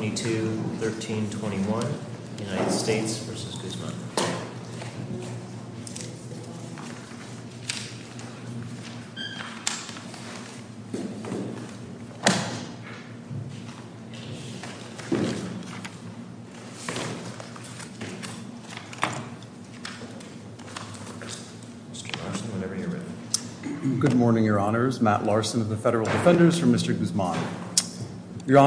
Good morning, your honors. Matt Larson of the Federal Defenders for Mr. Guzman. Your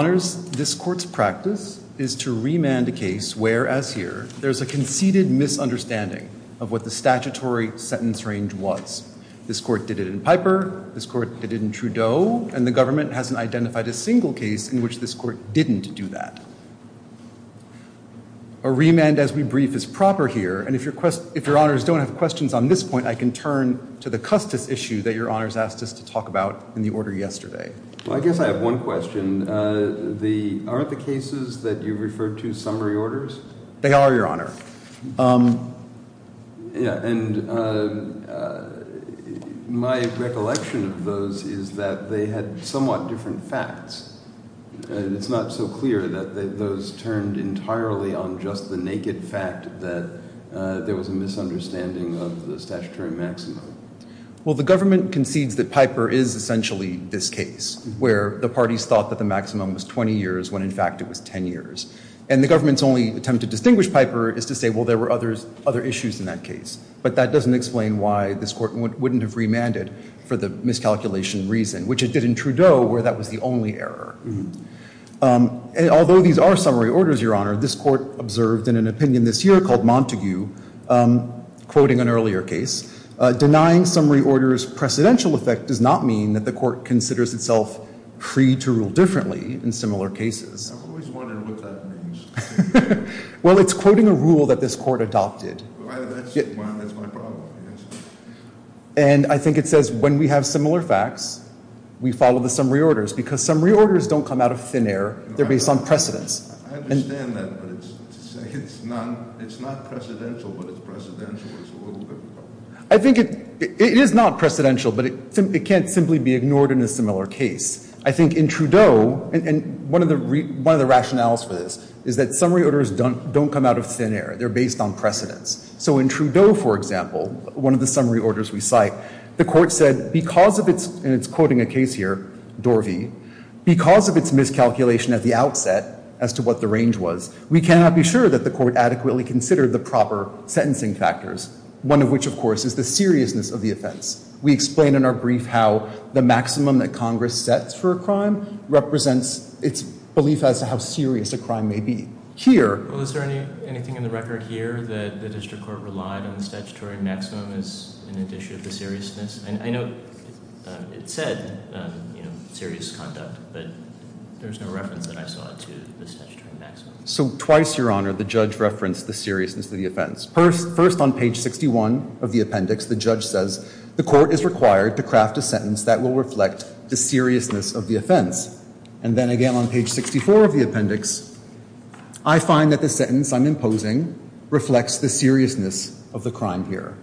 practice is to remand a case where, as here, there's a conceded misunderstanding of what the statutory sentence range was. This court did it in Piper. This court did it in Trudeau. And the government hasn't identified a single case in which this court didn't do that. A remand, as we brief, is proper here. And if your honors don't have questions on this point, I can turn to the Custis issue that your honors asked us to talk about in the order yesterday. Well, I guess I have one question. Are the cases that you referred to summary orders? They are, your honor. And my recollection of those is that they had somewhat different facts. It's not so clear that those turned entirely on just the naked fact that there was a misunderstanding of the statutory maximum. Well, the government concedes that Piper is essentially this case, where the parties thought that the maximum was 20 years when, in fact, it was 10 years. And the government's only attempt to distinguish Piper is to say, well, there were other issues in that case. But that doesn't explain why this court wouldn't have remanded for the miscalculation reason, which it did in Trudeau, where that was the only error. And although these are summary orders, your honor, this court observed in an opinion this year called Montague, quoting an earlier case, denying summary orders' precedential effect does not mean that the court considers itself free to rule differently in similar cases. I've always wondered what that means. Well, it's quoting a rule that this court adopted. Well, that's my problem, I guess. And I think it says, when we have similar facts, we follow the summary orders. Because summary orders don't come out of thin air. They're based on precedence. I understand that. But it's not precedential, but it's precedential. It's a little bit of a problem. I think it is not precedential. But it can't simply be ignored in a similar case. I think in Trudeau, and one of the rationales for this is that summary orders don't come out of thin air. They're based on precedence. So in Trudeau, for example, one of the summary orders we cite, the court said, because of its, and it's quoting a case here, Dorvey, because of its miscalculation at the outset as to what the range was, we cannot be sure that the court adequately considered the proper sentencing factors, one of which, of course, is the seriousness of the offense. We explain in our brief how the maximum that Congress sets for a crime represents its belief as to how serious a crime may be. Here. Well, is there anything in the record here that the district court relied on the statutory maximum as an addition of the seriousness? And I know it said serious conduct, but there's no reference that I saw to the statutory maximum. So twice, Your Honor, the judge referenced the seriousness of the offense. First, on page 61 of the appendix, the judge says, the court is required to craft a sentence that will reflect the seriousness of the offense. And then again on page 64 of the appendix, I find that the sentence I'm imposing reflects the seriousness of the crime here.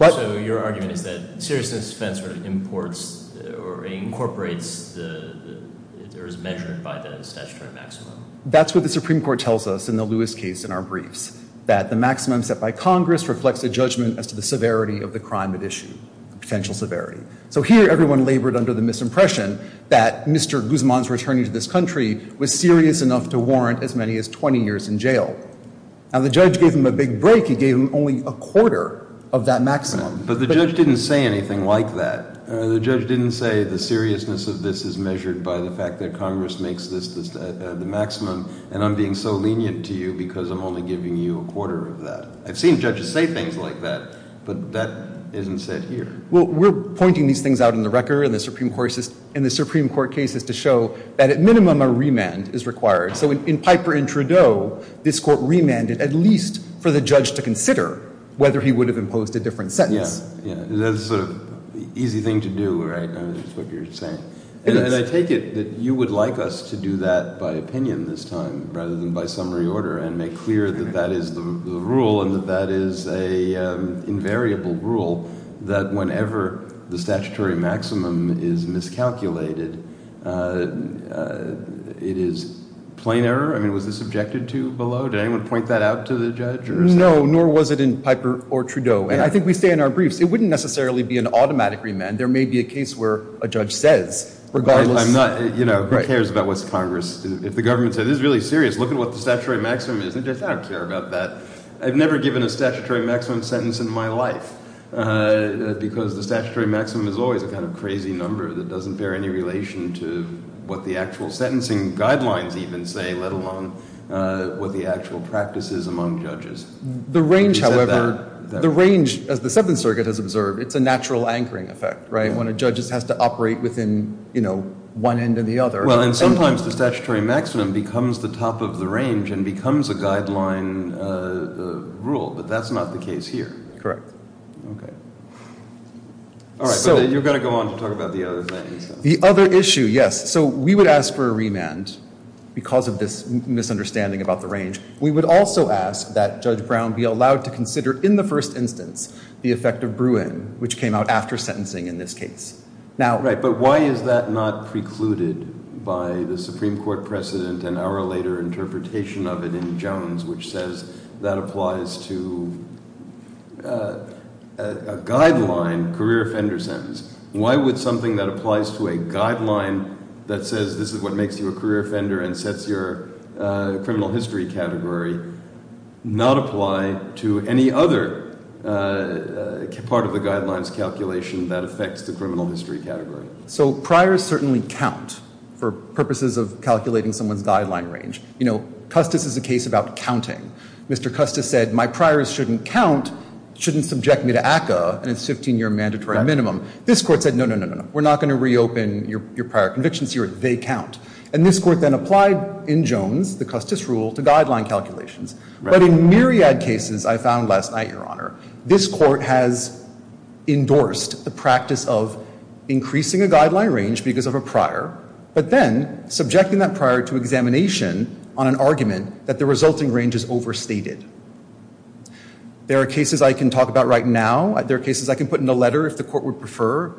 So your argument is that seriousness of offense sort of imports or incorporates or is measured by the statutory maximum. That's what the Supreme Court tells us in the Lewis case in our briefs, that the maximum set by Congress reflects a judgment as to the severity of the crime at issue, potential severity. So here, everyone labored under the misimpression that Mr. Guzman's returning to this country was serious enough to warrant as many as 20 years in jail. Now, the judge gave him a big break. He gave him only a quarter of that maximum. But the judge didn't say anything like that. The judge didn't say the seriousness of this is measured by the fact that Congress makes this the maximum, and I'm being so lenient to you because I'm only giving you a quarter of that. I've seen judges say things like that, but that isn't said here. Well, we're pointing these things out in the record in the Supreme Court cases to show that, at minimum, a remand is required. So in Piper and Trudeau, this court remanded at least for the judge to consider whether he would have imposed a different sentence. That's sort of the easy thing to do, right? I mean, that's what you're saying. And I take it that you would like us to do that by opinion this time, rather than by summary order, and make clear that that is the rule, and that that is an invariable rule, that whenever the statutory maximum is miscalculated, it is plain error? I mean, was this objected to below? Did anyone point that out to the judge? No, nor was it in Piper or Trudeau. And I think we say in our briefs, it wouldn't necessarily be an automatic remand. There may be a case where a judge says, regardless. I'm not, you know, who cares about what's Congress? If the government said, this is really serious. Look at what the statutory maximum is. And the judge said, I don't care about that. I've never given a statutory maximum sentence in my life, because the statutory maximum is always a kind of crazy number that doesn't bear any relation to what the actual sentencing guidelines even say, let alone what the actual practice is among judges. The range, however, the range, as the Seventh Circuit has observed, it's a natural anchoring effect, right? When a judge has to operate within one end or the other. Well, and sometimes the statutory maximum becomes the top of the range and becomes a guideline rule. But that's not the case here. Correct. OK. All right, so you're going to go on to talk about the other things. The other issue, yes. So we would ask for a remand because of this misunderstanding about the range. We would also ask that Judge Brown be allowed to consider, in the first instance, the effect of Bruin, which came out after sentencing in this case. Now. Right, but why is that not precluded by the Supreme Court precedent an hour later interpretation of it in Jones, which says that applies to a guideline career offender sentence? Why would something that applies to a guideline that says this is what makes you a career offender and sets your criminal history category not apply to any other part of the guidelines calculation that affects the criminal history category? So priors certainly count for purposes of calculating someone's guideline range. You know, Custis is a case about counting. Mr. Custis said, my priors shouldn't count, shouldn't subject me to ACCA, and it's 15-year mandatory minimum. This court said, no, no, no, no. We're not going to reopen your prior convictions here. They count. And this court then applied, in Jones, the Custis rule, to guideline calculations. But in myriad cases, I found last night, Your Honor, this court has endorsed the practice of increasing a guideline range because of a prior, but then subjecting that prior to examination on an argument that the resulting range is overstated. There are cases I can talk about right now. There are cases I can put in a letter if the court would prefer.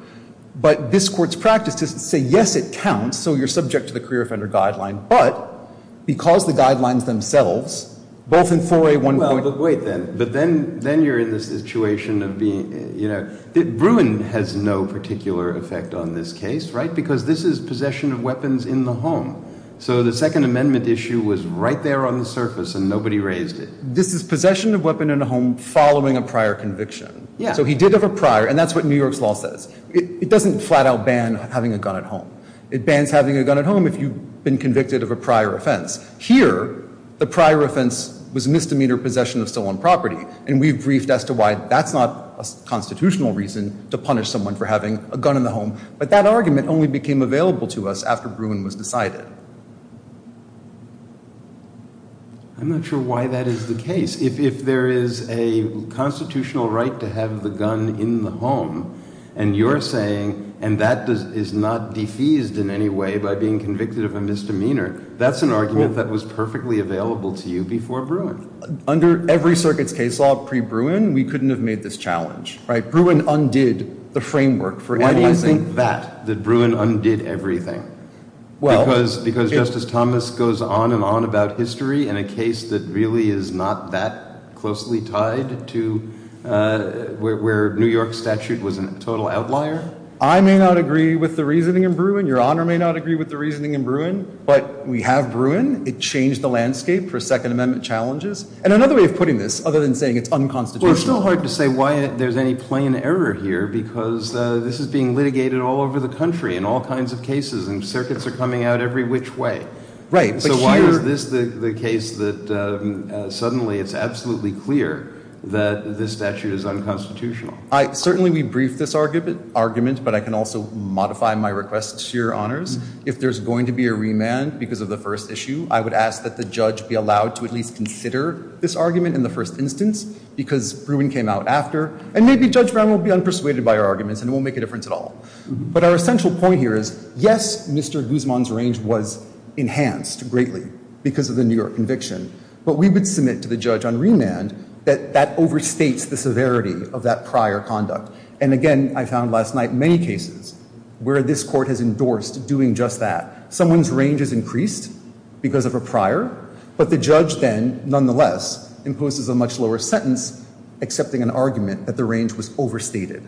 But this court's practice is to say, yes, it counts. So you're subject to the career offender guideline. But because the guidelines themselves, both in 4A1. Well, but wait, then. But then you're in the situation of being, you know, Bruin has no particular effect on this case, right? Because this is possession of weapons in the home. So the Second Amendment issue was right there on the surface, and nobody raised it. This is possession of weapon in a home following a prior conviction. So he did have a prior. And that's what New York's law says. It doesn't flat out ban having a gun at home. It bans having a gun at home if you've been convicted of a prior offense. Here, the prior offense was misdemeanor possession of stolen property. And we've briefed as to why that's not a constitutional reason to punish someone for having a gun in the home. But that argument only became available to us after Bruin was decided. I'm not sure why that is the case. If there is a constitutional right to have the gun in the home, and you're saying, and that is not defeased in any way by being convicted of a misdemeanor, that's an argument that was perfectly available to you before Bruin. Under every circuit's case law pre-Bruin, we couldn't have made this challenge, right? Bruin undid the framework for analyzing that, that Bruin undid everything. Because Justice Thomas goes on and on about history in a case that really is not that closely tied to where New York's statute was a total outlier. I may not agree with the reasoning in Bruin. Your Honor may not agree with the reasoning in Bruin. But we have Bruin. It changed the landscape for Second Amendment challenges. And another way of putting this, other than saying it's unconstitutional. Well, it's still hard to say why there's any plain error here. Because this is being litigated all over the country in all kinds of cases. And circuits are coming out every which way. So why is this the case that suddenly it's absolutely clear that this statute is unconstitutional? Certainly, we briefed this argument. But I can also modify my requests to your honors. If there's going to be a remand because of the first issue, I would ask that the judge be allowed to at least consider this argument in the first instance because Bruin came out after. And maybe Judge Brown will be unpersuaded by our arguments and it won't make a difference at all. But our essential point here is, yes, Mr. Guzman's range was enhanced greatly because of the New York conviction. But we would submit to the judge on remand that that overstates the severity of that prior conduct. And again, I found last night many cases where this court has endorsed doing just that. Someone's range is increased because of a prior. But the judge then, nonetheless, imposes a much lower sentence accepting an argument that the range was overstated.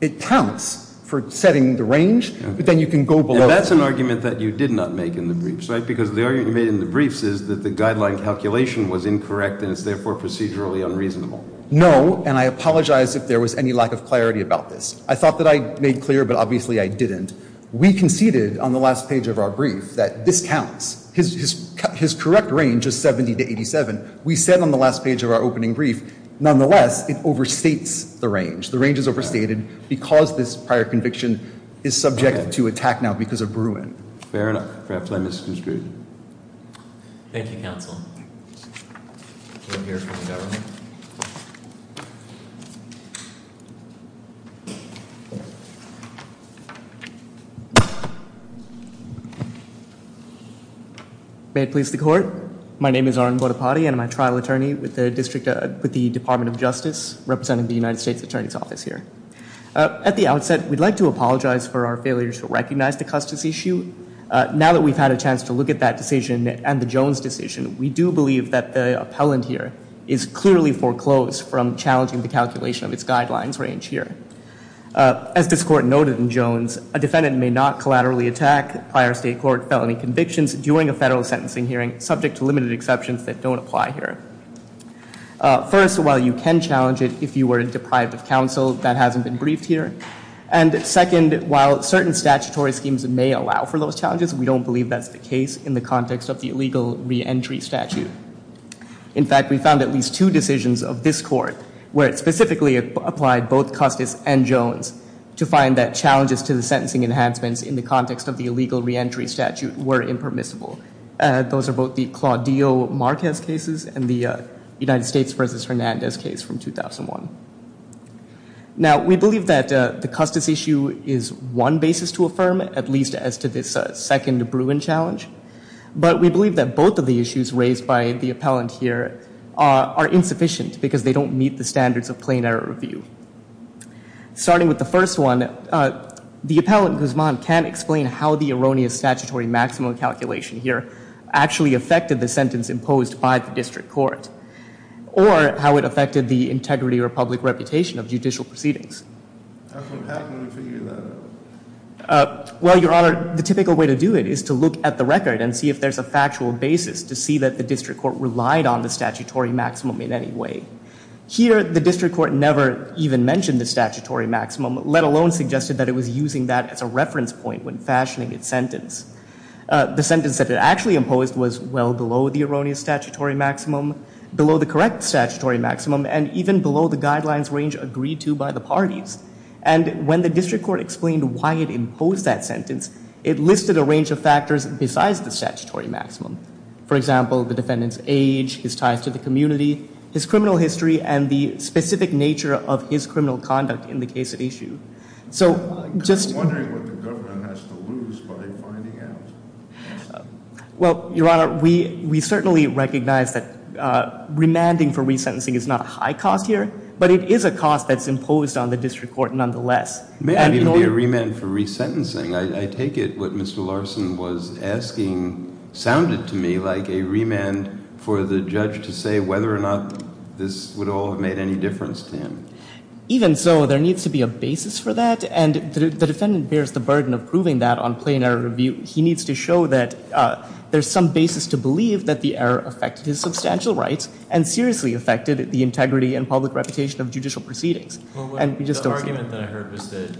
It counts for setting the range, but then you can go below it. And that's an argument that you did not make in the briefs. Because the argument you made in the briefs is that the guideline calculation was incorrect and is therefore procedurally unreasonable. No, and I apologize if there was any lack of clarity about this. I thought that I made clear, but obviously I didn't. We conceded on the last page of our brief that this counts. His correct range is 70 to 87. We said on the last page of our opening brief, nonetheless, it overstates the range. The range is overstated because this prior conviction is subject to attack now because of Bruin. Fair enough. Perhaps I misconstrued it. Thank you, counsel. We'll hear from the government. May it please the court. My name is Arun Vodapati, and I'm a trial attorney with the Department of Justice, representing the United States Attorney's Office here. At the outset, we'd like to apologize for our failure to recognize the Custis issue. Now that we've had a chance to look at that decision and the Jones decision, we do believe that the appellant here is clearly foreclosed from challenging the calculation of its guidelines range here. As this court noted in Jones, a defendant may not collaterally attack prior state court felony convictions during a federal sentencing hearing subject to limited exceptions that don't apply here. First, while you can challenge it if you were deprived of counsel, that hasn't been briefed here. And second, while certain statutory schemes may allow for those challenges, we don't believe that's the case in the context of the illegal reentry statute. In fact, we found at least two decisions of this court where it specifically applied both Custis and Jones to find that challenges to the sentencing enhancements in the context of the illegal reentry statute were impermissible. Those are both the Claudio Marquez cases and the United States versus Hernandez case from 2001. Now, we believe that the Custis issue is one basis to affirm, at least as to this second Bruin challenge. But we believe that both of the issues raised by the appellant here are insufficient because they don't meet the standards of plain error review. Starting with the first one, the appellant, Guzman, can't explain how the erroneous statutory maximum calculation actually affected the sentence imposed by the district court or how it affected the integrity or public reputation of judicial proceedings. How can we figure that out? Well, Your Honor, the typical way to do it is to look at the record and see if there's a factual basis to see that the district court relied on the statutory maximum in any way. Here, the district court never even mentioned the statutory maximum, let alone suggested that it was using that as a reference point when fashioning its sentence. The sentence that it actually imposed was well below the erroneous statutory maximum, below the correct statutory maximum, and even below the guidelines range agreed to by the parties. And when the district court explained why it imposed that sentence, it listed a range of factors besides the statutory maximum. For example, the defendant's age, his ties to the community, his criminal history, and the specific nature of his criminal conduct in the case at issue. So just- I'm wondering what the government has to lose by finding out. Well, Your Honor, we certainly recognize that remanding for resentencing is not a high cost here, but it is a cost that's imposed on the district court nonetheless. Maybe it would be a remand for resentencing. I take it what Mr. Larson was asking sounded to me like a remand for the judge to say whether or not this would all have made any difference to him. Even so, there needs to be a basis for that. And the defendant bears the burden of proving that on plain error review. He needs to show that there's some basis to believe that the error affected his substantial rights and seriously affected the integrity and public reputation of judicial proceedings. And we just don't see- The argument that I heard was that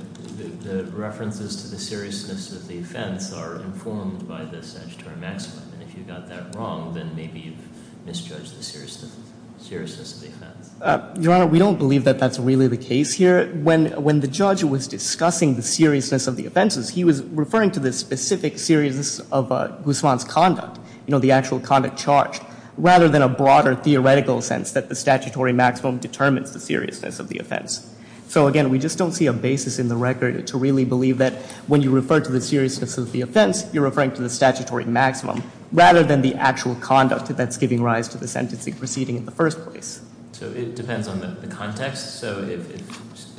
the references to the seriousness of the offense are informed by the statutory maximum. And if you got that wrong, then maybe you've misjudged the seriousness of the offense. Your Honor, we don't believe that that's really the case here. When the judge was discussing the seriousness of the offenses, he was referring to the specific seriousness of Guzman's conduct, the actual conduct charged, rather than a broader theoretical sense that the statutory maximum determines the seriousness of the offense. So again, we just don't see a basis in the record to really believe that when you refer to the seriousness of the offense, you're referring to the statutory maximum, rather than the actual conduct that's giving rise to the sentencing proceeding in the first place. So it depends on the context. So if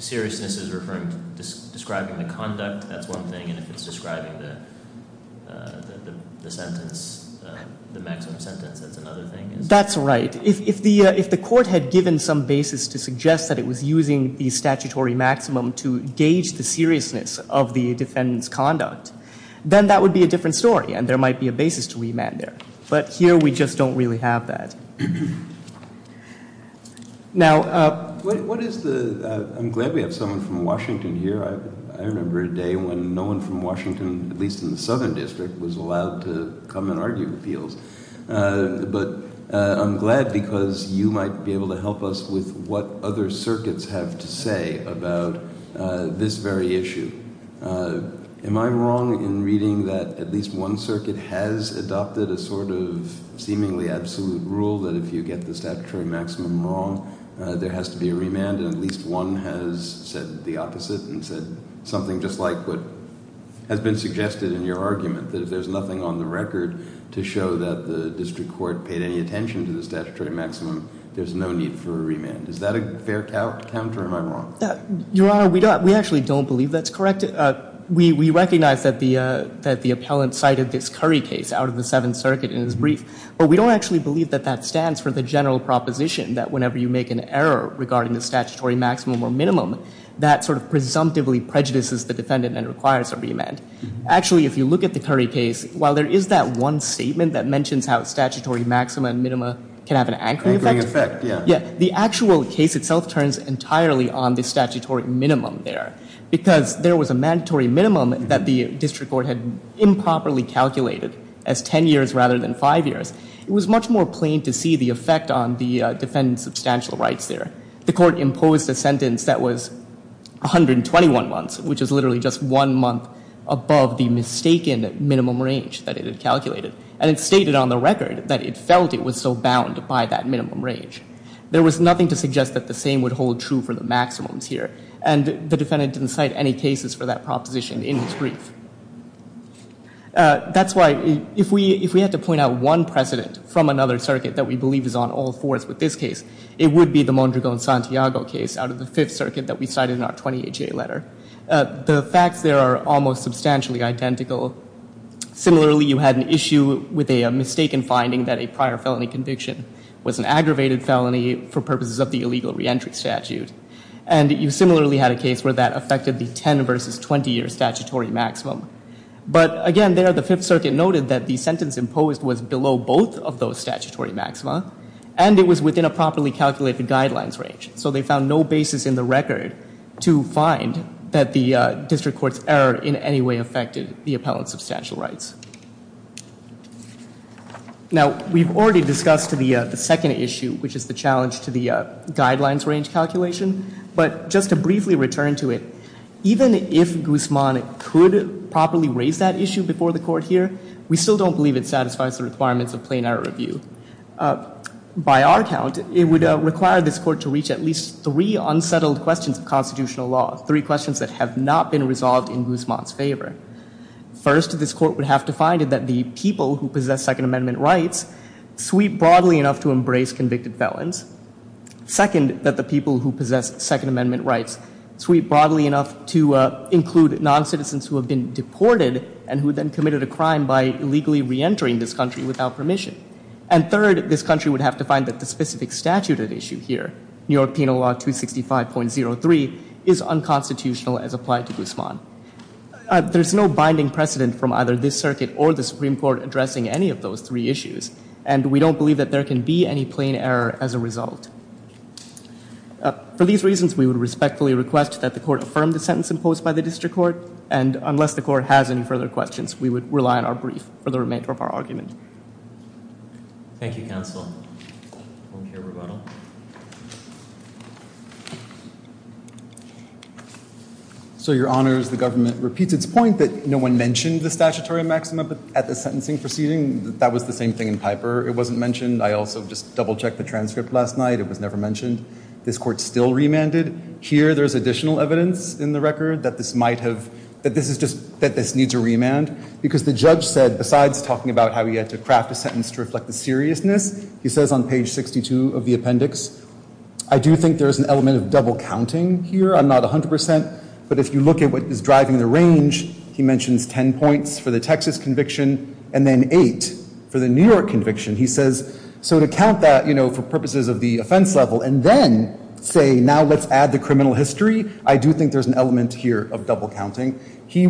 seriousness is describing the conduct, that's one thing. And if it's describing the sentence, the maximum sentence, that's another thing. That's right. If the court had given some basis to suggest that it was using the statutory maximum to gauge the seriousness of the defendant's conduct, then that would be a different story. And there might be a basis to remand there. But here, we just don't really have that. Now, I'm glad we have someone from Washington here. I remember a day when no one from Washington, at least in the Southern District, was allowed to come and argue appeals. But I'm glad because you might be able to help us with what other circuits have to say about this very issue. Am I wrong in reading that at least one circuit has adopted a sort of seemingly absolute rule that if you get the statutory maximum wrong, there has to be a remand? And at least one has said the opposite and said something just like what has been suggested in your argument, that if there's nothing on the record to show that the district court paid any attention to the statutory maximum, there's no need for a remand. Is that a fair count, or am I wrong? Your Honor, we actually don't believe that's correct. We recognize that the appellant cited this Curry case out of the Seventh Circuit in his brief. But we don't actually believe that that stands for the general proposition that whenever you make an error regarding the statutory maximum or minimum, that sort of presumptively prejudices the defendant and requires a remand. Actually, if you look at the Curry case, while there is that one statement that mentions how statutory maxima and minima can have an anchoring effect, the actual case itself turns entirely on the statutory minimum there because there was a mandatory minimum that the district court had improperly calculated as 10 years rather than five years. It was much more plain to see the effect on the defendant's substantial rights there. The court imposed a sentence that was 121 months, which is literally just one month above the mistaken minimum range that it had calculated. And it stated on the record that it felt it was still bound by that minimum range. There was nothing to suggest that the same would hold true for the maximums here. And the defendant didn't cite any cases for that proposition in his brief. That's why, if we had to point out one precedent from another circuit that we believe is on all fours with this case, it would be the Mondragon-Santiago case out of the Fifth Circuit that we cited in our 20HA letter. The facts there are almost substantially identical. Similarly, you had an issue with a mistaken finding that a prior felony conviction was an aggravated felony for purposes of the illegal reentry statute. And you similarly had a case where that affected the 10 versus 20-year statutory maximum. But again, there, the Fifth Circuit noted that the sentence imposed was below both of those statutory maxima. And it was within a properly calculated guidelines range. So they found no basis in the record to find that the district court's error in any way affected the appellant's substantial rights. Now, we've already discussed the second issue, which is the challenge to the guidelines range calculation. But just to briefly return to it, even if Guzman could properly raise that issue before the court here, we still don't believe it satisfies the requirements of plain error review. By our count, it would require this court to reach at least three unsettled questions of constitutional law, three questions that have not been resolved in Guzman's favor. First, this court would have to find that the people who possess Second Amendment rights sweep broadly enough to embrace convicted felons. Second, that the people who possess Second Amendment rights sweep broadly enough to include non-citizens who have been deported and who then committed a crime by illegally re-entering this country without permission. And third, this country would have to find that the specific statute at issue here, New York Penal Law 265.03, is unconstitutional as applied to Guzman. There's no binding precedent from either this circuit or the Supreme Court addressing any of those three issues. And we don't believe that there can be any plain error as a result. For these reasons, we would respectfully request that the court affirm the sentence imposed by the district court. And unless the court has any further questions, we would rely on our brief for the remainder of our argument. Thank you, counsel. Don't care about them. So your honors, the government repeats its point that no one mentioned the statutory maxima at the sentencing proceeding. That was the same thing in Piper. It wasn't mentioned. I also just double checked the transcript last night. It was never mentioned. This court still remanded. Here, there's additional evidence in the record that this needs a remand. Because the judge said, besides talking about how he had to craft a sentence to reflect the seriousness, he says on page 62 of the appendix, I do think there is an element of double counting here. I'm not 100%. But if you look at what is driving the range, he mentions 10 points for the Texas conviction, and then eight for the New York conviction. He says, so to count that for purposes of the offense level, and then say, now let's add the criminal history, I do think there's an element here of double counting. He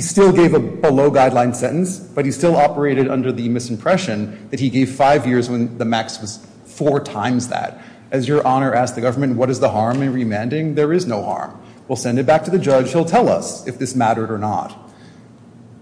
still gave a below-guideline sentence, but he still operated under the misimpression that he gave five years when the max was four times that. As your honor asked the government, what is the harm in remanding? There is no harm. We'll send it back to the judge. He'll tell us if this mattered or not.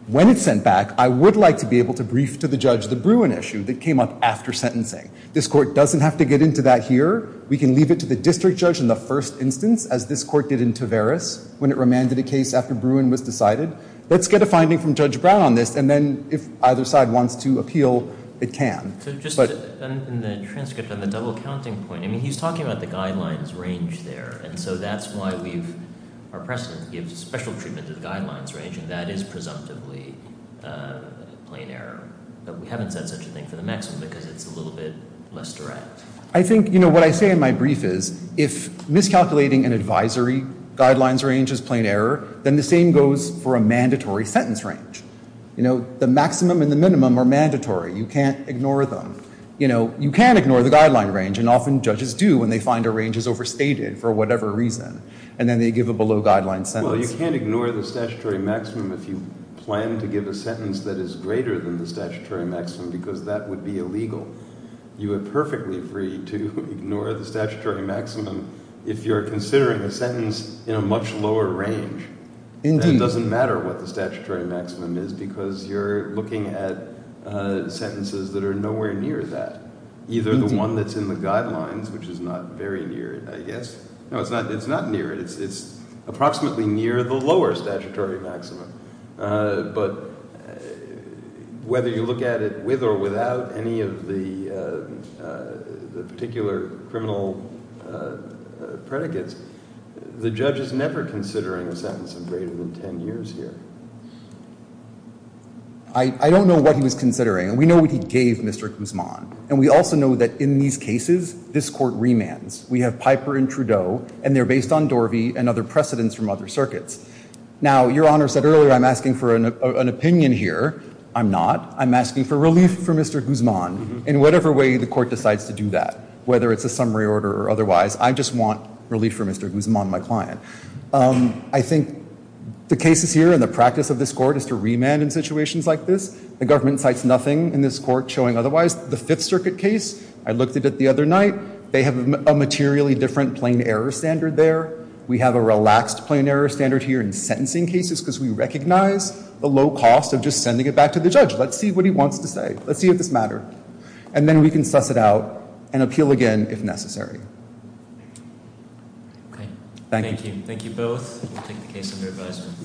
When it's sent back, I would like to be able to brief to the judge the Bruin issue that came up after sentencing. This court doesn't have to get into that here. We can leave it to the district judge in the first instance, as this court did in Tavaris, when it remanded a case after Bruin was decided. Let's get a finding from Judge Brown on this, and then if either side wants to appeal, it can. So just in the transcript on the double counting point, I mean, he's talking about the guidelines range there. And so that's why our precedent gives special treatment to the guidelines range. And that is presumptively a plain error. But we haven't said such a thing for the maximum, because it's a little bit less direct. I think what I say in my brief is, if miscalculating an advisory guidelines range is plain error, then the same goes for a mandatory sentence range. The maximum and the minimum are mandatory. You can't ignore them. You can't ignore the guideline range, and often judges do when they find a range is overstated, for whatever reason. And then they give a below guideline sentence. Well, you can't ignore the statutory maximum if you plan to give a sentence that is greater than the statutory maximum, because that would be illegal. You are perfectly free to ignore the statutory maximum if you're considering a sentence in a much lower range. It doesn't matter what the statutory maximum is, because you're looking at sentences that are nowhere near that. Either the one that's in the guidelines, which is not very near it, I guess. No, it's not near it. It's approximately near the lower statutory maximum. But whether you look at it with or without any of the particular criminal predicates, the judge is never considering a sentence of greater than 10 years here. I don't know what he was considering, and we know what he gave Mr. Guzman. And we also know that in these cases, this court remands. We have Piper and Trudeau, and they're based on Dorvey and other precedents from other circuits. Now, Your Honor said earlier I'm asking for an opinion here. I'm not. I'm asking for relief for Mr. Guzman. In whatever way the court decides to do that, whether it's a summary order or otherwise, I just want relief for Mr. Guzman, my client. I think the cases here and the practice of this court is to remand in situations like this. The government cites nothing in this court showing otherwise. The Fifth Circuit case, I looked at it the other night. They have a materially different plain error standard there. We have a relaxed plain error standard here in sentencing cases because we recognize the low cost of just sending it back to the judge. Let's see what he wants to say. Let's see if this mattered. And then we can suss it out and appeal again if necessary. OK. Thank you. Thank you both. We'll take the case under advisement.